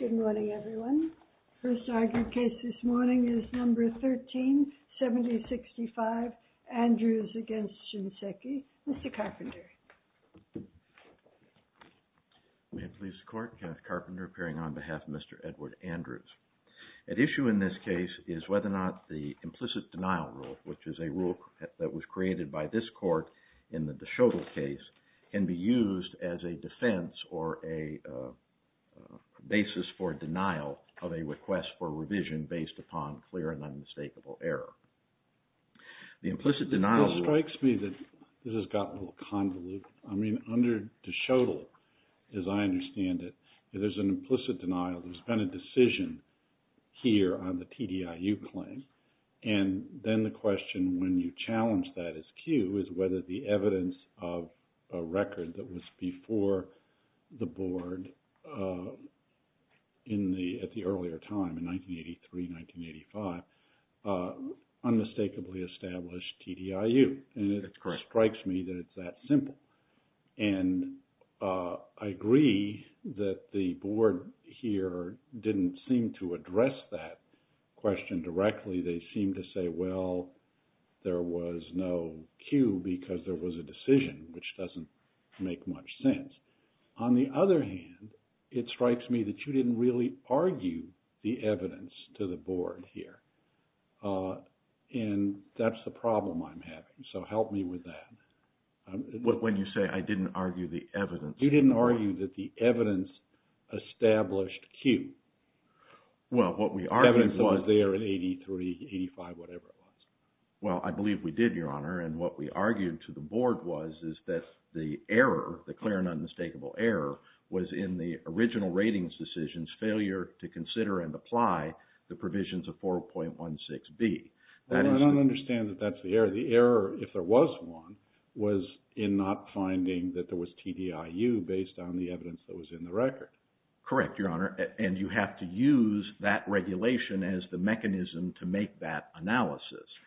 Good morning everyone. The first argued case this morning is number 137065 Andrews v. Shinseki. Mr. Carpenter. May it please the court. Kenneth Carpenter appearing on behalf of Mr. Edward Andrews. At issue in this case is whether or not the implicit denial rule, which is a rule that was created by this court in the DeShogol case, can be used as a defense or a basis for denial of a request for revision based upon clear and unmistakable error. The implicit denial… It strikes me that this has gotten a little convoluted. I mean under DeShogol, as I understand it, there's an implicit denial. There's been a decision here on the TDIU claim. And then the question when you challenge that as cue is whether the evidence of a record that was before the board in the… at the earlier time in 1983-1985 unmistakably established TDIU. That's correct. It strikes me that it's that simple. And I agree that the board here didn't seem to address that question directly. They seem to say, well, there was no cue because there was a decision, which doesn't make much sense. On the other hand, it strikes me that you didn't really argue the evidence to the board here. And that's the problem I'm having. So help me with that. When you say I didn't argue the evidence… You didn't argue that the evidence established cue. Well, what we argued was… Evidence that was there in 1983-1985, whatever it was. Well, I believe we did, Your Honor. And what we argued to the board was that the error, the clear and unmistakable error, was in the original ratings decision's failure to consider and apply the provisions of 4.16B. I don't understand that that's the error. The error, if there was one, was in not finding that there was TDIU based on the evidence that was in the record. Correct, Your Honor. And you have to use that regulation as the mechanism to make that analysis.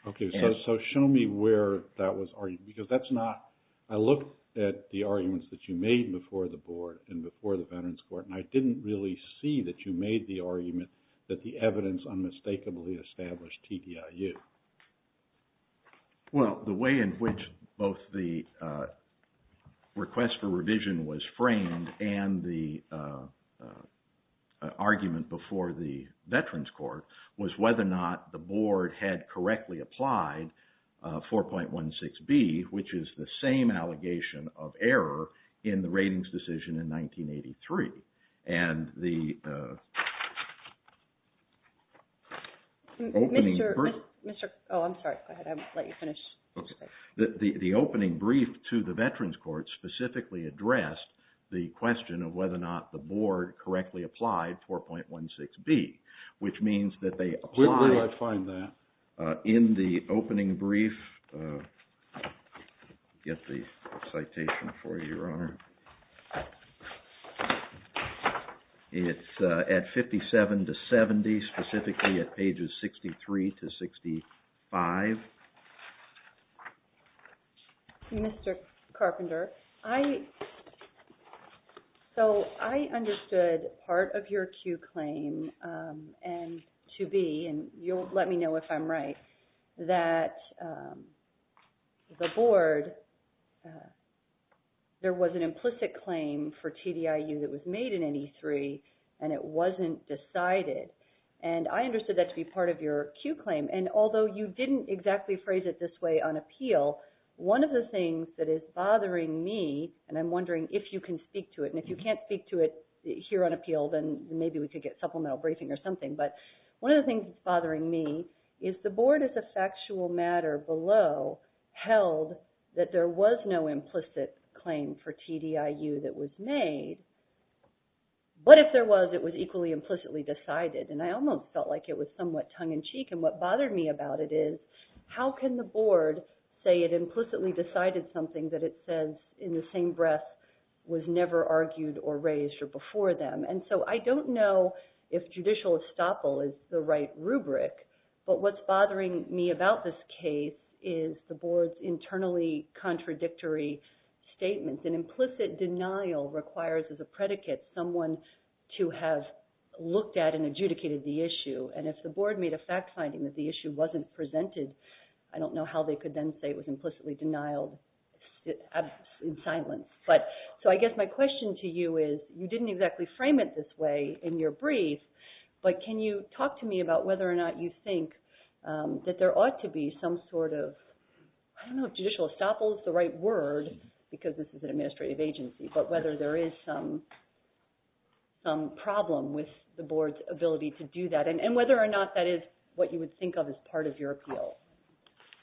Okay. So show me where that was argued. Because that's not… I looked at the arguments that you made before the board and before the Veterans Court, and I didn't really see that you made the argument that the evidence unmistakably established TDIU. Well, the way in which both the request for revision was framed and the argument before the Veterans Court was whether or not the board had correctly applied 4.16B, which is the same allegation of error in the ratings decision in 1983. And the opening… Mr. Oh, I'm sorry. Go ahead. I'll let you finish. The opening brief to the Veterans Court specifically addressed the question of whether or not the board correctly applied 4.16B, which means that they applied… Where do I find that? In the opening brief… I'll get the citation for you, Your Honor. It's at 57 to 70, specifically at pages 63 to 65. Mr. Carpenter, I… So I understood part of your Q claim to be – and you'll let me know if I'm right – that the board, there was an implicit claim for TDIU that was made in 1983, and it wasn't decided. And I understood that to be part of your Q claim. And although you didn't exactly phrase it this way on appeal, one of the things that is bothering me – and I'm wondering if you can speak to it. And if you can't speak to it here on appeal, then maybe we could get supplemental briefing or something. But one of the things that's bothering me is the board, as a factual matter below, held that there was no implicit claim for TDIU that was made. But if there was, it was equally implicitly decided. And I almost felt like it was somewhat tongue-in-cheek. And what bothered me about it is, how can the board say it implicitly decided something that it says in the same breath was never argued or raised or before them? And so I don't know if judicial estoppel is the right rubric, but what's bothering me about this case is the board's internally contradictory statements. And implicit denial requires, as a predicate, someone to have looked at and adjudicated the issue. And if the board made a fact finding that the issue wasn't presented, I don't know how they could then say it was implicitly denied in silence. So I guess my question to you is, you didn't exactly frame it this way in your brief, but can you talk to me about whether or not you think that there ought to be some sort of, I don't know if judicial estoppel is the right word, because this is an administrative agency, but whether there is some problem with the board's ability to do that. And whether or not that is what you would think of as part of your appeal.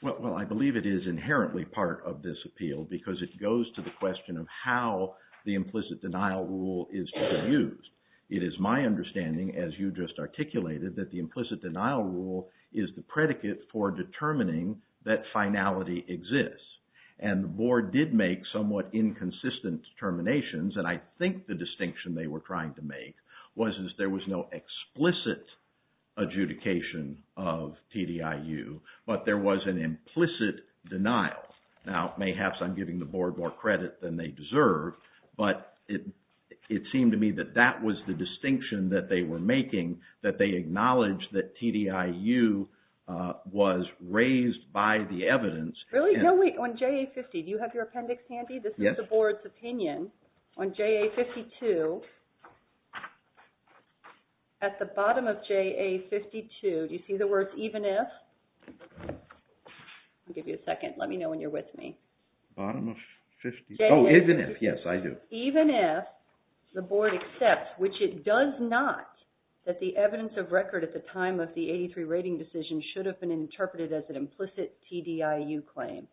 Well, I believe it is inherently part of this appeal because it goes to the question of how the implicit denial rule is to be used. It is my understanding, as you just articulated, that the implicit denial rule is the predicate for determining that finality exists. And the board did make somewhat inconsistent determinations, and I think the distinction they were trying to make was that there was no explicit adjudication of TDIU, but there was an implicit denial. Now, mayhaps I'm giving the board more credit than they deserve, but it seemed to me that that was the distinction that they were making, that they acknowledged that TDIU was raised by the evidence. Really? No, wait. On JA-50, do you have your appendix handy? This is the board's opinion on JA-52. At the bottom of JA-52, do you see the words, even if? I'll give you a second. Let me know when you're with me. Bottom of 52? Oh, even if. Yes, I do. Even if the board accepts, which it does not, that the evidence of record at the time of the 83 rating decision should have been interpreted as an implicit TDIU claim.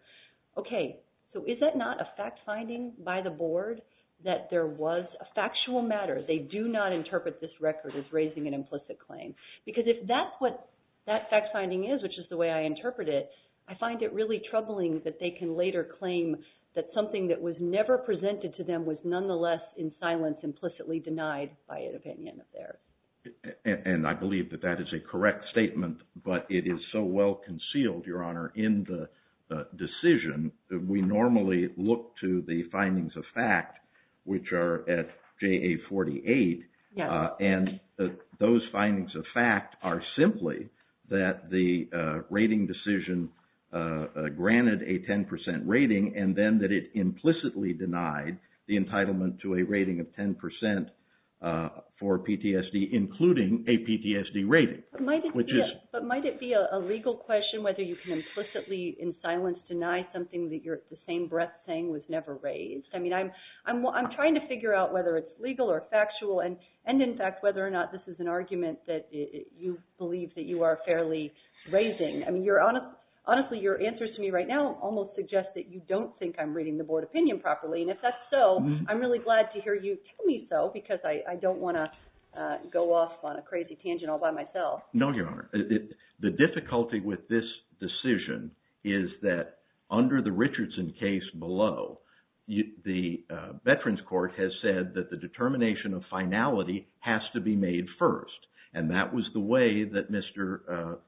Okay, so is that not a fact finding by the board that there was a factual matter? They do not interpret this record as raising an implicit claim. Because if that's what that fact finding is, which is the way I interpret it, I find it really troubling that they can later claim that something that was never presented to them was nonetheless in silence implicitly denied by an opinion of theirs. And I believe that that is a correct statement, but it is so well concealed, Your Honor, in the decision that we normally look to the findings of fact, which are at JA-48. And those findings of fact are simply that the rating decision granted a 10% rating, and then that it implicitly denied the entitlement to a rating of 10% for PTSD, including a PTSD rating. But might it be a legal question whether you can implicitly in silence deny something that you're at the same breath saying was never raised? I mean, I'm trying to figure out whether it's legal or factual, and in fact, whether or not this is an argument that you believe that you are fairly raising. I mean, honestly, your answers to me right now almost suggest that you don't think I'm reading the board opinion properly. And if that's so, I'm really glad to hear you tell me so because I don't want to go off on a crazy tangent all by myself. No, Your Honor. The difficulty with this decision is that under the Richardson case below, the Veterans Court has said that the determination of finality has to be made first. And that was the way that Mr.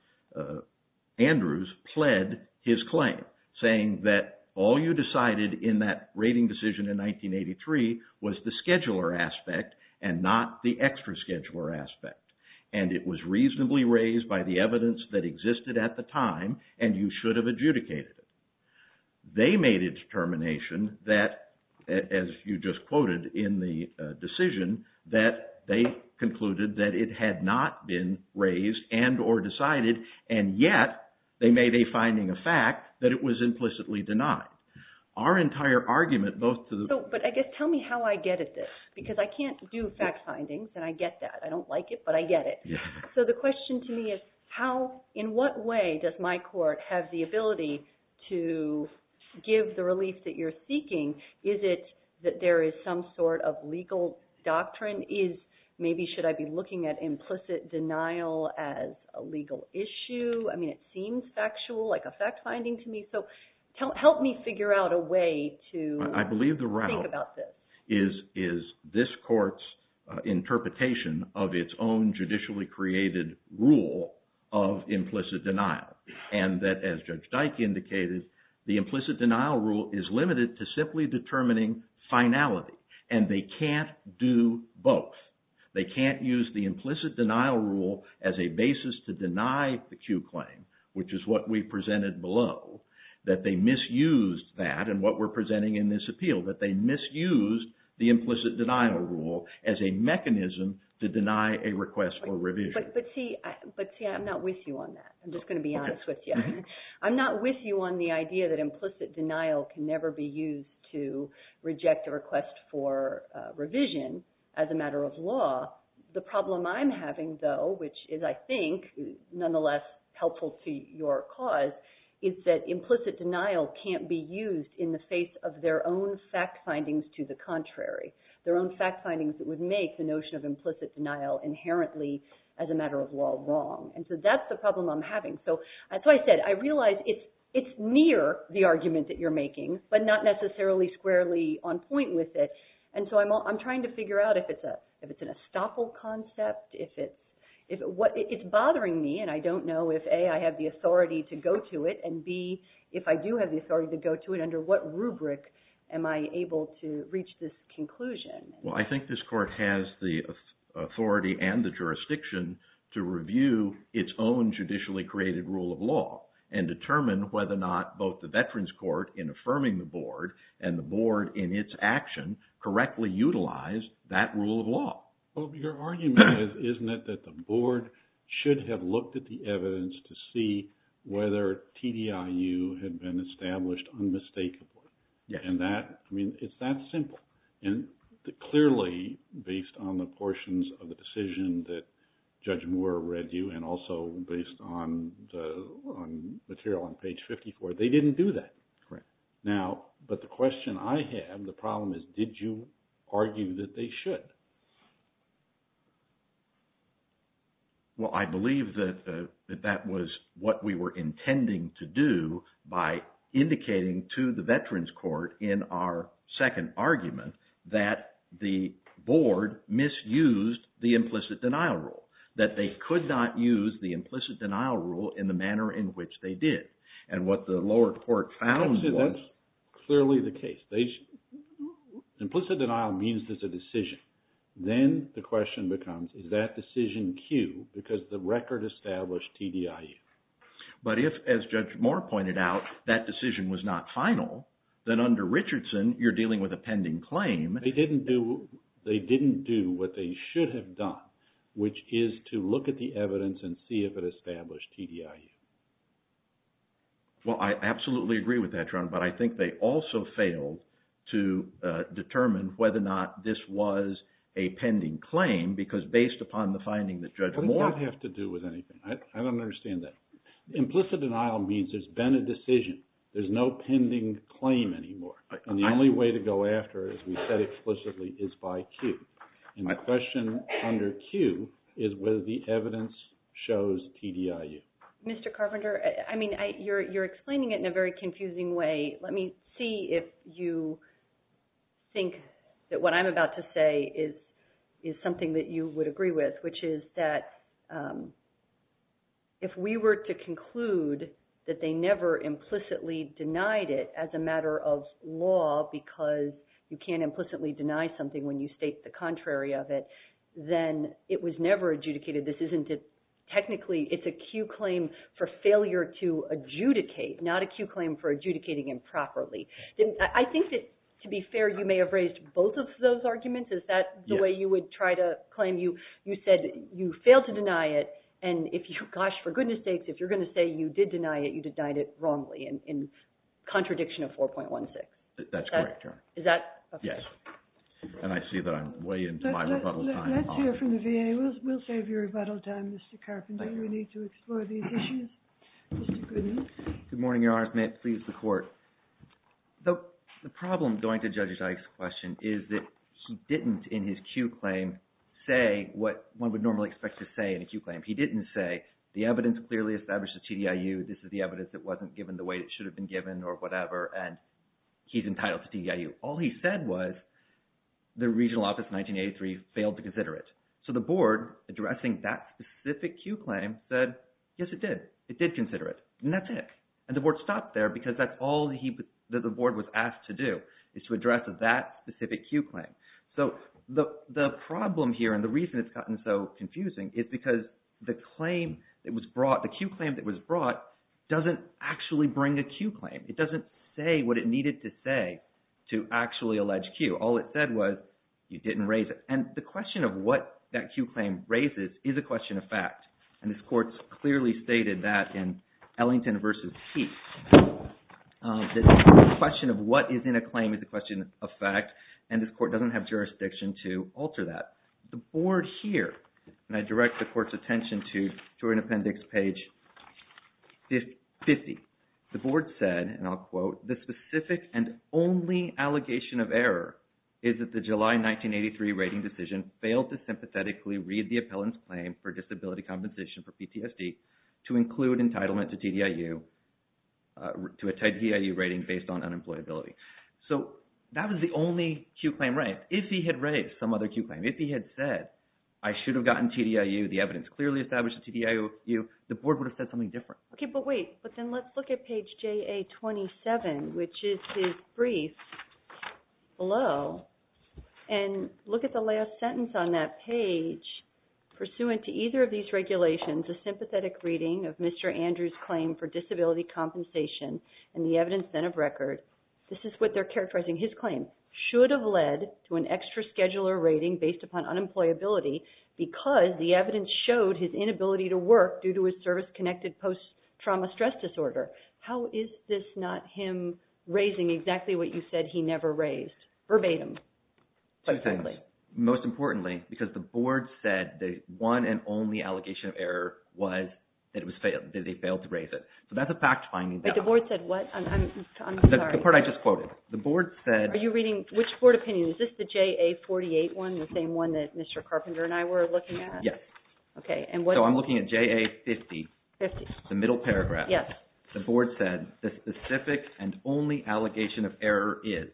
Andrews pled his claim, saying that all you decided in that rating decision in 1983 was the scheduler aspect and not the extra scheduler aspect. And it was reasonably raised by the evidence that existed at the time, and you should have adjudicated it. They made a determination that, as you just quoted in the decision, that they concluded that it had not been raised and or decided, and yet they made a finding of fact that it was implicitly denied. But I guess tell me how I get at this because I can't do fact findings, and I get that. I don't like it, but I get it. So the question to me is, in what way does my court have the ability to give the relief that you're seeking? Is it that there is some sort of legal doctrine? Maybe should I be looking at implicit denial as a legal issue? I mean, it seems factual, like a fact finding to me. So help me figure out a way to think about this. I believe the route is this court's interpretation of its own judicially created rule of implicit denial. And that, as Judge Dyke indicated, the implicit denial rule is limited to simply determining finality, and they can't do both. They can't use the implicit denial rule as a basis to deny the Q claim, which is what we presented below, that they misused that and what we're presenting in this appeal, that they misused the implicit denial rule as a mechanism to deny a request for revision. But see, I'm not with you on that. I'm just going to be honest with you. I'm not with you on the idea that implicit denial can never be used to reject a request for revision as a matter of law. The problem I'm having, though, which is, I think, nonetheless helpful to your cause, is that implicit denial can't be used in the face of their own fact findings to the contrary, their own fact findings that would make the notion of implicit denial inherently, as a matter of law, wrong. And so that's the problem I'm having. So as I said, I realize it's near the argument that you're making, but not necessarily squarely on point with it. And so I'm trying to figure out if it's an estoppel concept, if it's – it's bothering me, and I don't know if, A, I have the authority to go to it, and, B, if I do have the authority to go to it, under what rubric am I able to reach this conclusion? Well, I think this court has the authority and the jurisdiction to review its own judicially created rule of law and determine whether or not both the Veterans Court, in affirming the board, and the board in its action, correctly utilized that rule of law. Well, your argument is, isn't it, that the board should have looked at the evidence to see whether TDIU had been established unmistakably? And that – I mean, it's that simple. And clearly, based on the portions of the decision that Judge Moore read you and also based on the material on page 54, they didn't do that. Correct. Now, but the question I have, the problem is, did you argue that they should? Well, I believe that that was what we were intending to do by indicating to the Veterans Court in our second argument that the board misused the implicit denial rule, that they could not use the implicit denial rule in the manner in which they did. And what the lower court found was – That's clearly the case. Implicit denial means there's a decision. Then the question becomes, is that decision cued because the record established TDIU? But if, as Judge Moore pointed out, that decision was not final, then under Richardson, you're dealing with a pending claim. They didn't do what they should have done, which is to look at the evidence and see if it established TDIU. Well, I absolutely agree with that, John. But I think they also failed to determine whether or not this was a pending claim because based upon the finding that Judge Moore – It didn't have to do with anything. I don't understand that. Implicit denial means there's been a decision. There's no pending claim anymore. And the only way to go after it, as we said explicitly, is by cue. And the question under cue is whether the evidence shows TDIU. Mr. Carpenter, I mean, you're explaining it in a very confusing way. Let me see if you think that what I'm about to say is something that you would agree with, which is that if we were to conclude that they never implicitly denied it as a matter of law because you can't implicitly deny something when you state the contrary of it, then it was never adjudicated. This isn't technically – it's a cue claim for failure to adjudicate, not a cue claim for adjudicating improperly. I think that, to be fair, you may have raised both of those arguments. Is that the way you would try to claim you said you failed to deny it? And if you – gosh, for goodness sakes, if you're going to say you did deny it, you denied it wrongly in contradiction of 4.16. That's correct, John. Is that okay? Yes. And I see that I'm way into my rebuttal time. Let's hear from the VA. We'll save your rebuttal time, Mr. Carpenter. Thank you. We need to explore these issues. Mr. Goodman. Good morning, Your Honors. May it please the Court. The problem going to Judge Ike's question is that he didn't, in his cue claim, say what one would normally expect to say in a cue claim. He didn't say the evidence clearly establishes TDIU, this is the evidence that wasn't given the way it should have been given or whatever, and he's entitled to TDIU. All he said was the Regional Office 1983 failed to consider it. So the Board, addressing that specific cue claim, said, yes, it did. It did consider it, and that's it. And the Board stopped there because that's all that the Board was asked to do is to address that specific cue claim. So the problem here and the reason it's gotten so confusing is because the cue claim that was brought doesn't actually bring a cue claim. It doesn't say what it needed to say to actually allege cue. All it said was you didn't raise it. And the question of what that cue claim raises is a question of fact. And this Court clearly stated that in Ellington v. Heath. The question of what is in a claim is a question of fact, and this Court doesn't have jurisdiction to alter that. The Board here, and I direct the Court's attention to an appendix page 50. The Board said, and I'll quote, the specific and only allegation of error is that the July 1983 rating decision failed to sympathetically read the appellant's claim for disability compensation for PTSD to include entitlement to TDIU, to a TDIU rating based on unemployability. So that was the only cue claim raised. If he had raised some other cue claim, if he had said I should have gotten TDIU, the evidence clearly established a TDIU, the Board would have said something different. Okay, but wait. But then let's look at page JA27, which is his brief below, and look at the last sentence on that page. Pursuant to either of these regulations, a sympathetic reading of Mr. Andrews' claim for disability compensation and the evidence then of record, this is what they're characterizing his claim, should have led to an extra scheduler rating based upon unemployability because the evidence showed his inability to work due to his service-connected post-trauma stress disorder. How is this not him raising exactly what you said he never raised verbatim? Most importantly, because the Board said the one and only allegation of error was that they failed to raise it. So that's a fact finding. But the Board said what? I'm sorry. The part I just quoted. The Board said – Are you reading – which Board opinion? Is this the JA48 one, the same one that Mr. Carpenter and I were looking at? Yes. Okay, and what – So I'm looking at JA50. Fifty. The middle paragraph. Yes. The Board said the specific and only allegation of error is,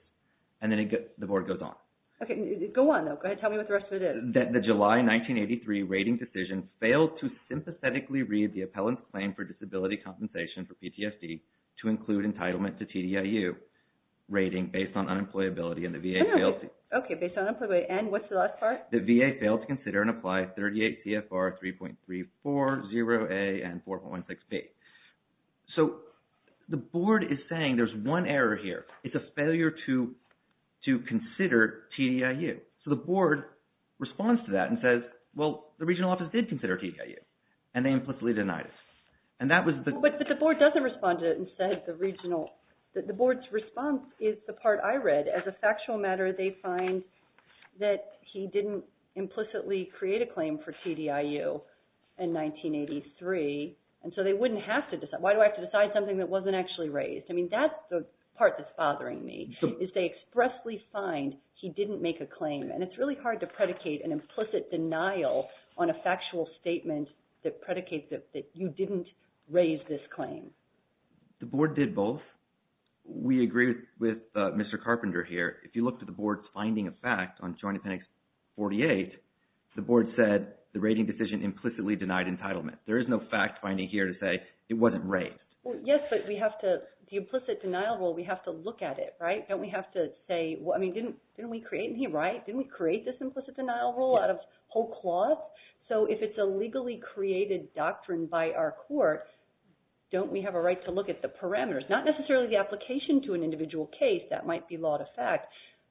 and then the Board goes on. Okay, go on though. Go ahead. Tell me what the rest of it is. The July 1983 rating decision failed to sympathetically read the appellant's claim for disability compensation for PTSD to include entitlement to TDIU rating based on unemployability and the VA failed to – Okay, based on unemployability. And what's the last part? The VA failed to consider and apply 38 CFR 3.34, 0A, and 4.16B. So the Board is saying there's one error here. It's a failure to consider TDIU. So the Board responds to that and says, well, the regional office did consider TDIU, and they implicitly denied it. And that was the – But the Board doesn't respond to it and said the regional – the Board's response is the part I read. As a factual matter, they find that he didn't implicitly create a claim for TDIU in 1983, and so they wouldn't have to – why do I have to decide something that wasn't actually raised? I mean, that's the part that's bothering me, is they expressly find he didn't make a claim. And it's really hard to predicate an implicit denial on a factual statement that predicates that you didn't raise this claim. The Board did both. We agree with Mr. Carpenter here. If you look to the Board's finding of fact on Joint Appendix 48, the Board said the rating decision implicitly denied entitlement. There is no fact-finding here to say it wasn't raised. Well, yes, but we have to – the implicit denial rule, we have to look at it, right? Don't we have to say – I mean, didn't we create it here, right? Didn't we create this implicit denial rule out of whole clause? So if it's a legally created doctrine by our court, don't we have a right to look at the parameters? Not necessarily the application to an individual case. That might be law to fact.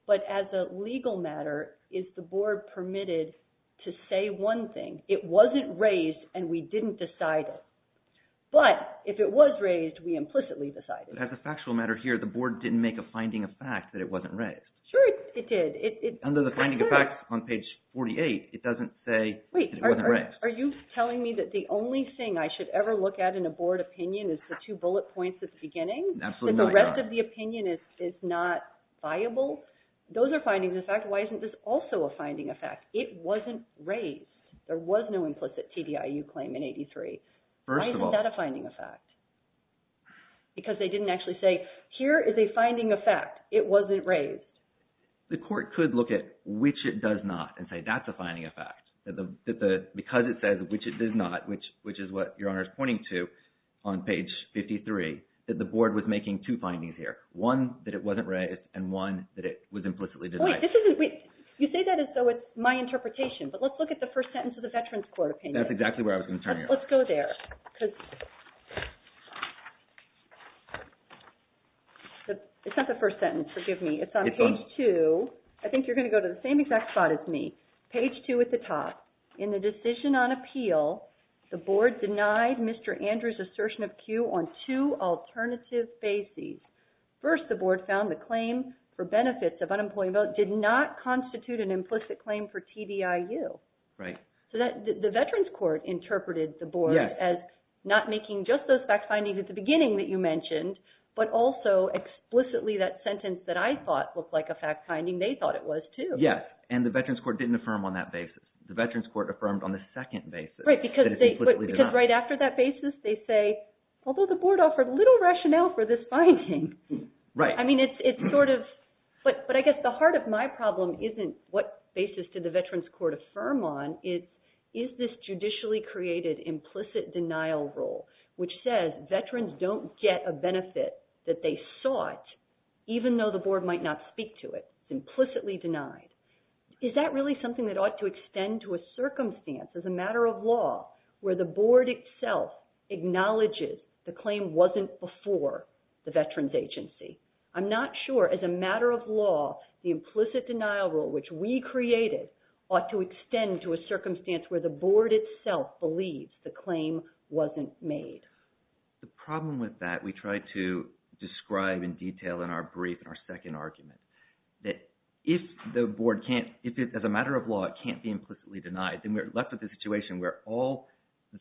But as a legal matter, is the Board permitted to say one thing? It wasn't raised, and we didn't decide it. But if it was raised, we implicitly decided it. But as a factual matter here, the Board didn't make a finding of fact that it wasn't raised. Sure, it did. Under the finding of fact on page 48, it doesn't say it wasn't raised. Wait, are you telling me that the only thing I should ever look at in a Board opinion is the two bullet points at the beginning? Absolutely not. And the rest of the opinion is not viable? Those are findings of fact. Why isn't this also a finding of fact? It wasn't raised. There was no implicit TDIU claim in 83. First of all – Why isn't that a finding of fact? Because they didn't actually say, here is a finding of fact. It wasn't raised. The Court could look at which it does not and say that's a finding of fact. Because it says which it does not, which is what Your Honor is pointing to on page 53, that the Board was making two findings here. One, that it wasn't raised. And one, that it was implicitly denied. You say that as though it's my interpretation. But let's look at the first sentence of the Veterans Court opinion. That's exactly where I was going to turn you. Let's go there. It's not the first sentence, forgive me. It's on page 2. I think you're going to go to the same exact spot as me. Page 2 at the top. In the decision on appeal, the Board denied Mr. Andrews' assertion of cue on two alternative bases. First, the Board found the claim for benefits of unemployment did not constitute an implicit claim for TDIU. Right. So the Veterans Court interpreted the Board as not making just those fact findings at the beginning that you mentioned, but also explicitly that sentence that I thought looked like a fact finding they thought it was too. Yes. And the Veterans Court didn't affirm on that basis. The Veterans Court affirmed on the second basis. Right. Because right after that basis, they say, although the Board offered little rationale for this finding. Right. I mean, it's sort of – but I guess the heart of my problem isn't what basis did the Veterans Court affirm on, it's is this judicially created implicit denial rule, which says veterans don't get a benefit that they sought, even though the Board might not speak to it. It's implicitly denied. Is that really something that ought to extend to a circumstance as a matter of law, where the Board itself acknowledges the claim wasn't before the Veterans Agency? I'm not sure, as a matter of law, the implicit denial rule, which we created, ought to extend to a circumstance where the Board itself believes the claim wasn't made. The problem with that, we tried to describe in detail in our brief, in our second argument, that if the Board can't – if as a matter of law it can't be implicitly denied, then we're left with a situation where all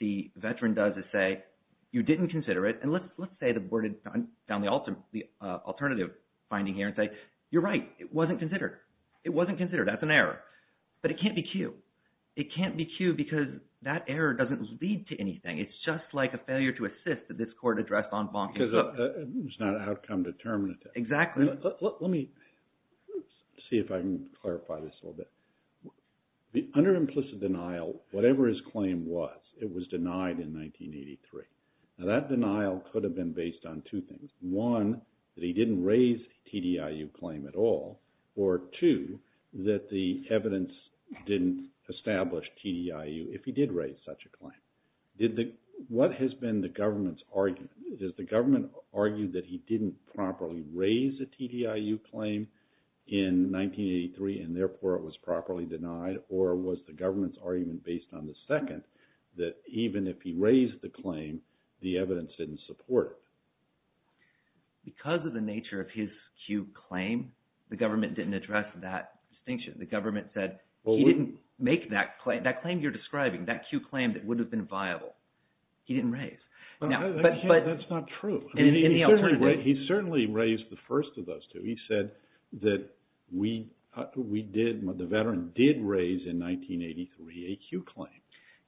the veteran does is say, you didn't consider it. And let's say the Board had found the alternative finding here and say, you're right, it wasn't considered. It wasn't considered. That's an error. But it can't be cued. It can't be cued because that error doesn't lead to anything. It's just like a failure to assist at this court address en banc. Because it's not an outcome determinant. Exactly. Let me see if I can clarify this a little bit. Under implicit denial, whatever his claim was, it was denied in 1983. Now that denial could have been based on two things. One, that he didn't raise a TDIU claim at all. Or two, that the evidence didn't establish TDIU if he did raise such a claim. What has been the government's argument? Does the government argue that he didn't properly raise a TDIU claim in 1983 and therefore it was properly denied? Or was the government's argument based on the second, that even if he raised the claim, the evidence didn't support it? Because of the nature of his cued claim, the government didn't address that distinction. The government said he didn't make that claim. That claim you're describing, that cued claim that would have been viable, he didn't raise. That's not true. He certainly raised the first of those two. He said that the veteran did raise in 1983 a cued claim.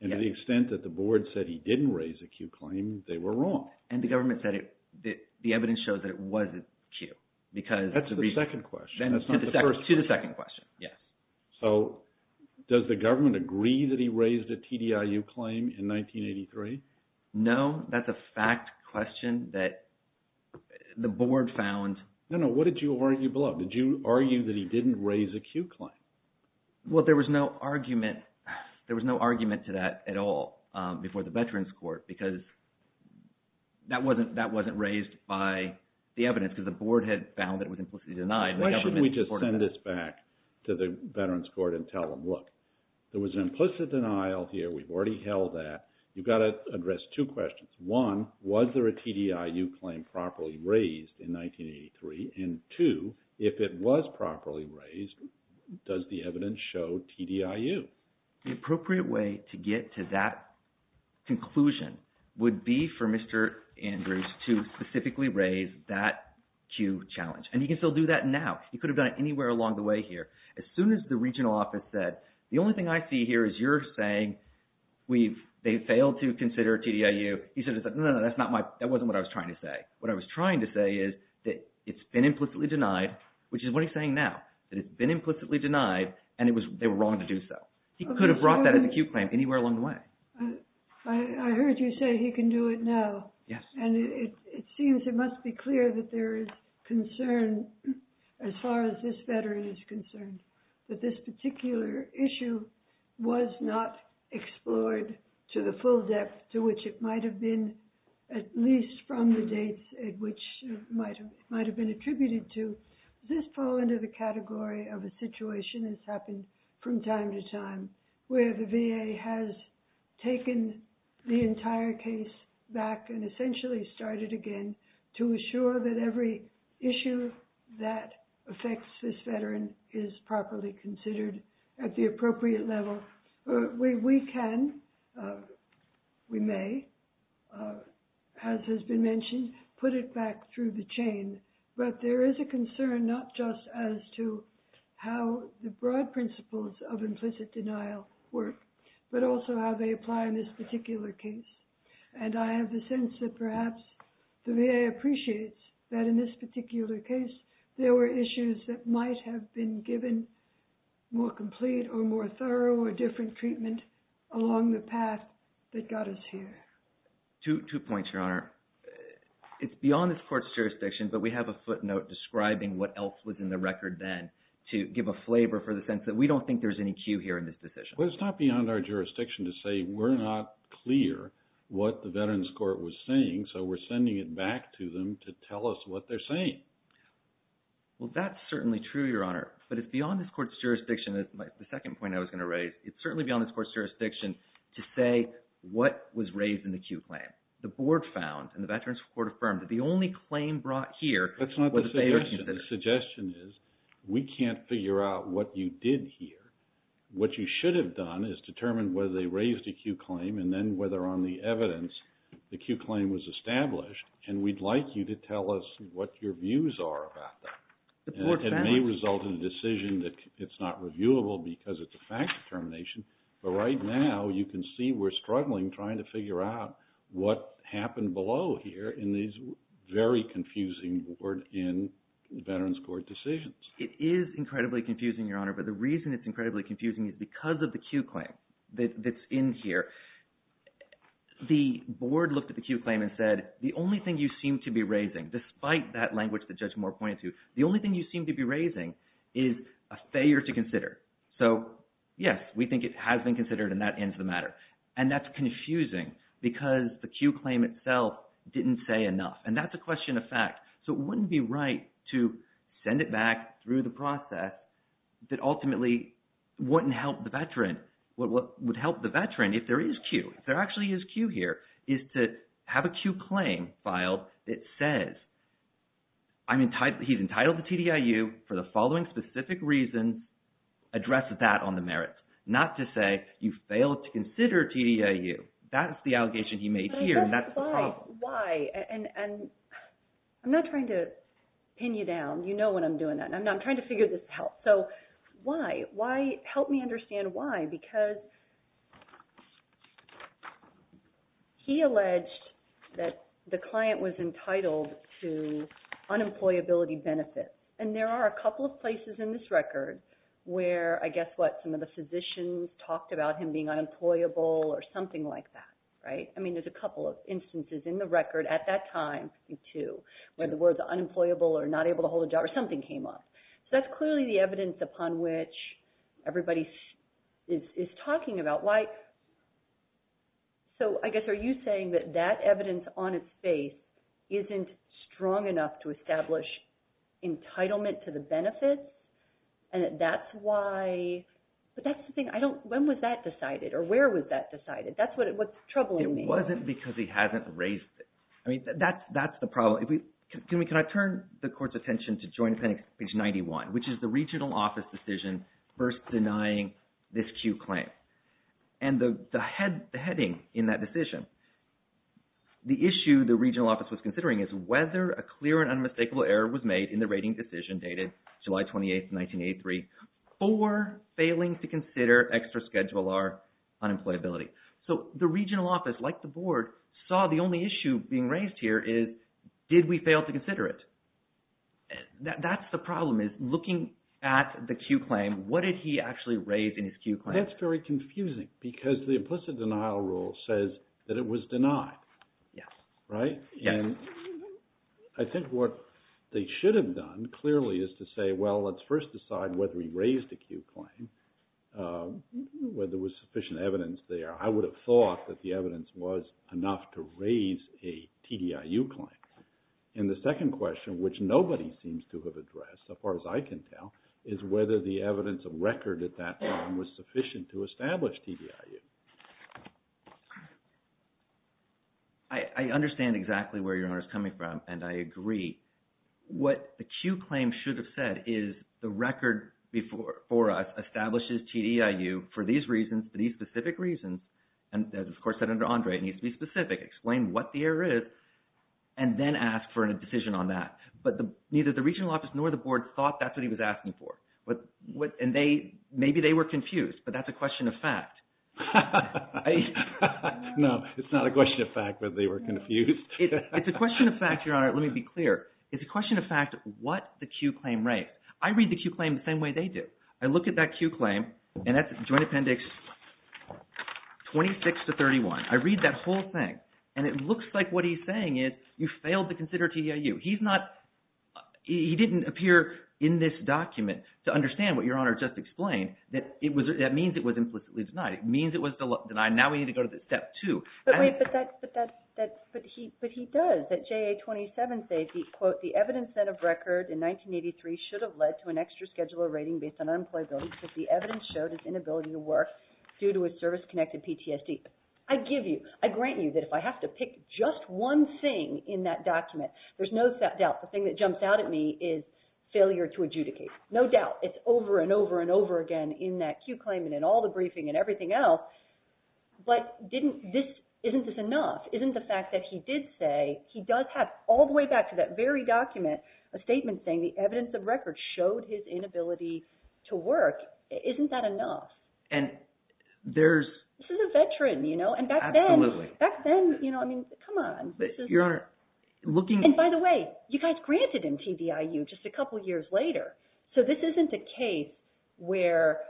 And to the extent that the board said he didn't raise a cued claim, they were wrong. And the government said the evidence shows that it was a cued. That's the second question. To the second question, yes. So does the government agree that he raised a TDIU claim in 1983? No, that's a fact question that the board found. No, no. What did you argue below? Did you argue that he didn't raise a cued claim? Well, there was no argument to that at all before the veterans court because that wasn't raised by the evidence because the board had found that it was implicitly denied. Why shouldn't we just send this back to the veterans court and tell them, look, there was an implicit denial here. We've already held that. You've got to address two questions. One, was there a TDIU claim properly raised in 1983? And two, if it was properly raised, does the evidence show TDIU? The appropriate way to get to that conclusion would be for Mr. Andrews to specifically raise that cued challenge. And he can still do that now. He could have done it anywhere along the way here. As soon as the regional office said, the only thing I see here is you're saying they failed to consider TDIU, he said, no, no, that wasn't what I was trying to say. What I was trying to say is that it's been implicitly denied, which is what he's saying now, that it's been implicitly denied and they were wrong to do so. He could have brought that as a cued claim anywhere along the way. I heard you say he can do it now. Yes. And it seems it must be clear that there is concern as far as this veteran is concerned that this particular issue was not explored to the full depth to which it might have been, at least from the dates at which it might have been attributed to. Does this fall into the category of a situation that's happened from time to time where the VA has taken the entire case back and essentially started again to assure that every issue that affects this veteran is properly considered at the appropriate level? We can, we may, as has been mentioned, put it back through the chain, but there is a concern not just as to how the broad principles of implicit denial work, but also how they apply in this particular case. And I have the sense that perhaps the VA appreciates that in this particular case, there were issues that might have been given more complete or more thorough or different treatment along the path that got us here. Two points, Your Honor. It's beyond this court's jurisdiction, but we have a footnote describing what else was in the record then to give a flavor for the sense that we don't think there's any cue here in this decision. Well, it's not beyond our jurisdiction to say we're not clear what the Veterans Court was saying, so we're sending it back to them to tell us what they're saying. Well, that's certainly true, Your Honor. But it's beyond this court's jurisdiction, the second point I was going to raise. It's certainly beyond this court's jurisdiction to say what was raised in the cue claim. The board found, and the Veterans Court affirmed, that the only claim brought here was the VA reconsideration. That's not the suggestion. The suggestion is we can't figure out what you did here. What you should have done is determined whether they raised a cue claim and then whether on the evidence the cue claim was established, and we'd like you to tell us what your views are about that. It may result in a decision that it's not reviewable because it's a fact determination, but right now you can see we're struggling trying to figure out what happened below here in these very confusing board and Veterans Court decisions. It is incredibly confusing, Your Honor, but the reason it's incredibly confusing is because of the cue claim that's in here. The board looked at the cue claim and said the only thing you seem to be raising, despite that language that Judge Moore pointed to, the only thing you seem to be raising is a failure to consider. So, yes, we think it has been considered, and that ends the matter. And that's confusing because the cue claim itself didn't say enough, and that's a question of fact. So it wouldn't be right to send it back through the process that ultimately wouldn't help the Veteran. What would help the Veteran, if there is cue, if there actually is cue here, is to have a cue claim filed that says he's entitled to TDIU for the following specific reason. Address that on the merits, not to say you failed to consider TDIU. That's the allegation he made here, and that's the problem. Why? And I'm not trying to pin you down. You know when I'm doing that, and I'm trying to figure this out. So why? Help me understand why, because he alleged that the client was entitled to unemployability benefits. And there are a couple of places in this record where, I guess what, some of the physicians talked about him being unemployable or something like that, right? I mean, there's a couple of instances in the record at that time, when the words unemployable or not able to hold a job or something came up. So that's clearly the evidence upon which everybody is talking about. So I guess are you saying that that evidence on its face isn't strong enough to establish entitlement to the benefits, and that's why? But that's the thing. When was that decided, or where was that decided? That's what's troubling me. It wasn't because he hasn't raised it. I mean, that's the problem. Can I turn the Court's attention to Joint Appendix page 91, which is the regional office decision first denying this Q claim. And the heading in that decision, the issue the regional office was considering is whether a clear and unmistakable error was made in the rating decision dated July 28, 1983, for failing to consider extra schedular unemployability. So the regional office, like the Board, saw the only issue being raised here is, did we fail to consider it? That's the problem, is looking at the Q claim, what did he actually raise in his Q claim? That's very confusing, because the implicit denial rule says that it was denied, right? Yes. And I think what they should have done, clearly, is to say, well, let's first decide whether he raised a Q claim, whether there was sufficient evidence there. I would have thought that the evidence was enough to raise a TDIU claim. And the second question, which nobody seems to have addressed, as far as I can tell, is whether the evidence of record at that time was sufficient to establish TDIU. I understand exactly where your honor is coming from, and I agree. What the Q claim should have said is the record for us establishes TDIU for these reasons, for these specific reasons. And as, of course, Senator Andre, it needs to be specific, explain what the error is, and then ask for a decision on that. But neither the regional office nor the Board thought that's what he was asking for. And maybe they were confused, but that's a question of fact. No, it's not a question of fact whether they were confused. It's a question of fact, your honor. Let me be clear. It's a question of fact what the Q claim raised. I read the Q claim the same way they do. I look at that Q claim, and that's Joint Appendix 26 to 31. I read that whole thing, and it looks like what he's saying is you failed to consider TDIU. He's not – he didn't appear in this document to understand what your honor just explained. That means it was implicitly denied. It means it was denied. Now we need to go to step two. But wait, but that's – but he does. That JA-27 says, quote, the evidence set of record in 1983 should have led to an extra scheduler rating based on unemployability because the evidence showed his inability to work due to his service-connected PTSD. I give you – I grant you that if I have to pick just one thing in that document, there's no doubt the thing that jumps out at me is failure to adjudicate. No doubt. It's over and over and over again in that Q claim and in all the briefing and everything else. But didn't this – isn't this enough? Isn't the fact that he did say – he does have all the way back to that very document a statement saying the evidence of record showed his inability to work. Isn't that enough? And there's – This is a veteran, you know, and back then – Absolutely. Back then, you know, I mean, come on. Your Honor, looking – And by the way, you guys granted him TDIU just a couple years later. So this isn't a case where –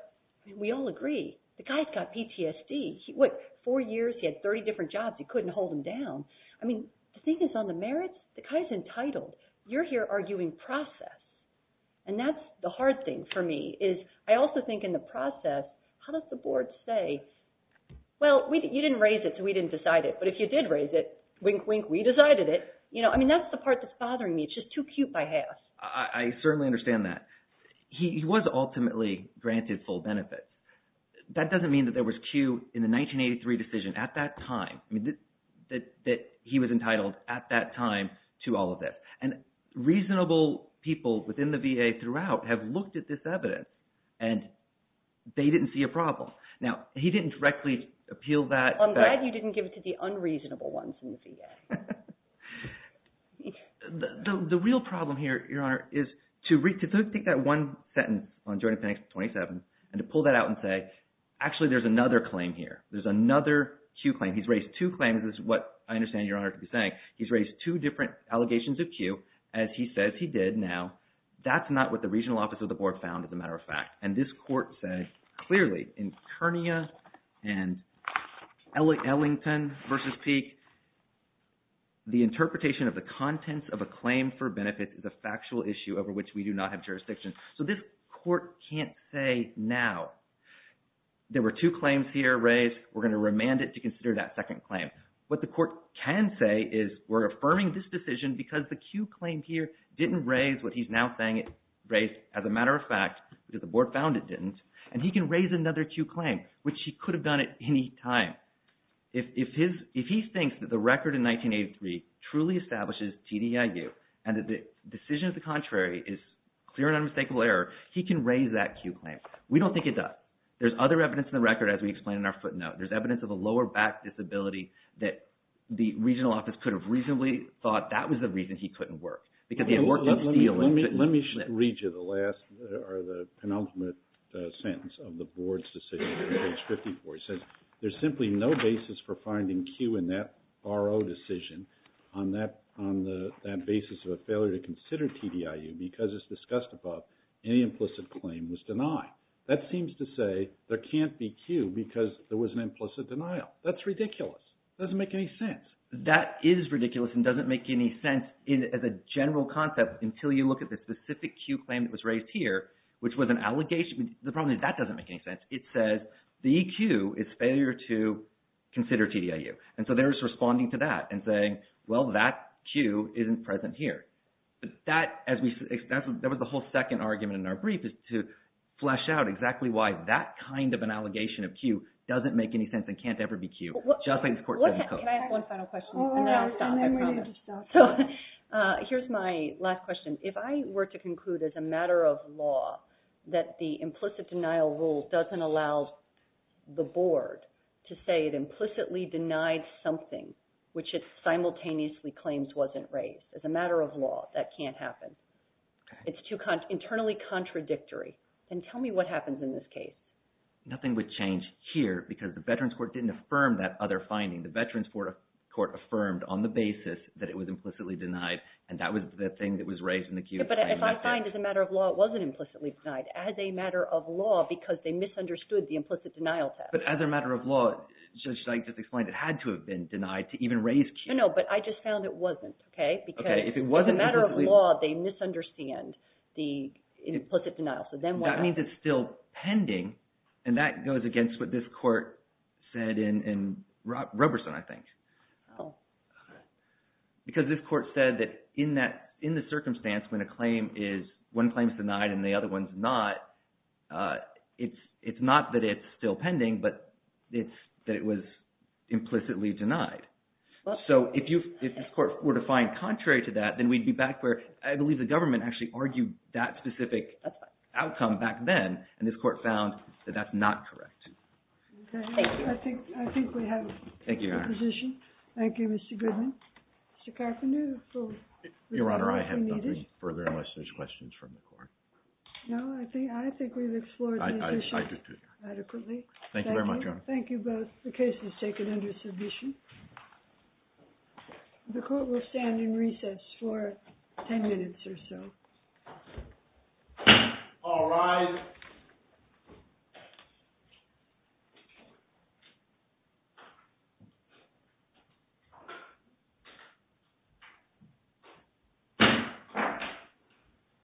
we all agree. The guy's got PTSD. What, four years? He had 30 different jobs. You couldn't hold him down. I mean, the thing is on the merits, the guy's entitled. You're here arguing process. And that's the hard thing for me is I also think in the process, how does the board say, well, you didn't raise it, so we didn't decide it. But if you did raise it, wink, wink, we decided it. You know, I mean, that's the part that's bothering me. It's just too cute by half. I certainly understand that. He was ultimately granted full benefit. That doesn't mean that there was cue in the 1983 decision at that time that he was entitled at that time to all of this. And reasonable people within the VA throughout have looked at this evidence, and they didn't see a problem. Now, he didn't directly appeal that. I'm glad you didn't give it to the unreasonable ones in the VA. The real problem here, Your Honor, is to take that one sentence on Joint Appendix 27 and to pull that out and say, actually, there's another claim here. There's another cue claim. He's raised two claims. This is what I understand Your Honor to be saying. He's raised two different allegations of cue, as he says he did. Now, that's not what the regional office of the board found, as a matter of fact. And this court said, clearly, in Kernia and Ellington v. Peek, the interpretation of the contents of a claim for benefits is a factual issue over which we do not have jurisdiction. So this court can't say now. There were two claims here raised. We're going to remand it to consider that second claim. What the court can say is we're affirming this decision because the cue claim here didn't raise what he's now saying it raised, as a matter of fact, because the board found it didn't. And he can raise another cue claim, which he could have done at any time. If he thinks that the record in 1983 truly establishes TDIU and that the decision of the contrary is clear and unmistakable error, he can raise that cue claim. We don't think he does. There's other evidence in the record, as we explained in our footnote. There's evidence of a lower back disability that the regional office could have reasonably thought that was the reason he couldn't work, because he had worked up steel and couldn't lift. Let me read you the last or the penultimate sentence of the board's decision here on page 54. It says, there's simply no basis for finding cue in that RO decision on that basis of a failure to consider TDIU because, as discussed above, any implicit claim was denied. That seems to say there can't be cue because there was an implicit denial. That's ridiculous. It doesn't make any sense. That is ridiculous and doesn't make any sense as a general concept until you look at the specific cue claim that was raised here, which was an allegation. The problem is that doesn't make any sense. It says the cue is failure to consider TDIU. And so they're just responding to that and saying, well, that cue isn't present here. That was the whole second argument in our brief is to flesh out exactly why that kind of an allegation of cue doesn't make any sense and can't ever be cued, just like this court doesn't code. Can I ask one final question? And then I'll stop. So here's my last question. If I were to conclude as a matter of law that the implicit denial rule doesn't allow the board to say it implicitly denied something which it simultaneously claims wasn't raised, as a matter of law, that can't happen. It's too internally contradictory. And tell me what happens in this case. Nothing would change here because the Veterans Court didn't affirm that other finding. The Veterans Court affirmed on the basis that it was implicitly denied, and that was the thing that was raised in the cue claim. But if I find as a matter of law it wasn't implicitly denied as a matter of law because they misunderstood the implicit denial test. But as a matter of law, should I just explain it had to have been denied to even raise cue? No, but I just found it wasn't because as a matter of law, they misunderstand the implicit denial. So then what happens? And that goes against what this court said in Roberson, I think, because this court said that in the circumstance when one claim is denied and the other one is not, it's not that it's still pending, but it's that it was implicitly denied. So if this court were to find contrary to that, then we'd be back where I believe the government actually argued that specific outcome back then, and this court found that that's not correct. Thank you. I think we have a position. Thank you, Your Honor. Thank you, Mr. Goodman. Mr. Carpenter? Your Honor, I have nothing further unless there's questions from the court. No, I think we've explored this issue adequately. Thank you very much, Your Honor. Thank you both. The case is taken under submission. The court will stand in recess for 10 minutes or so. All rise.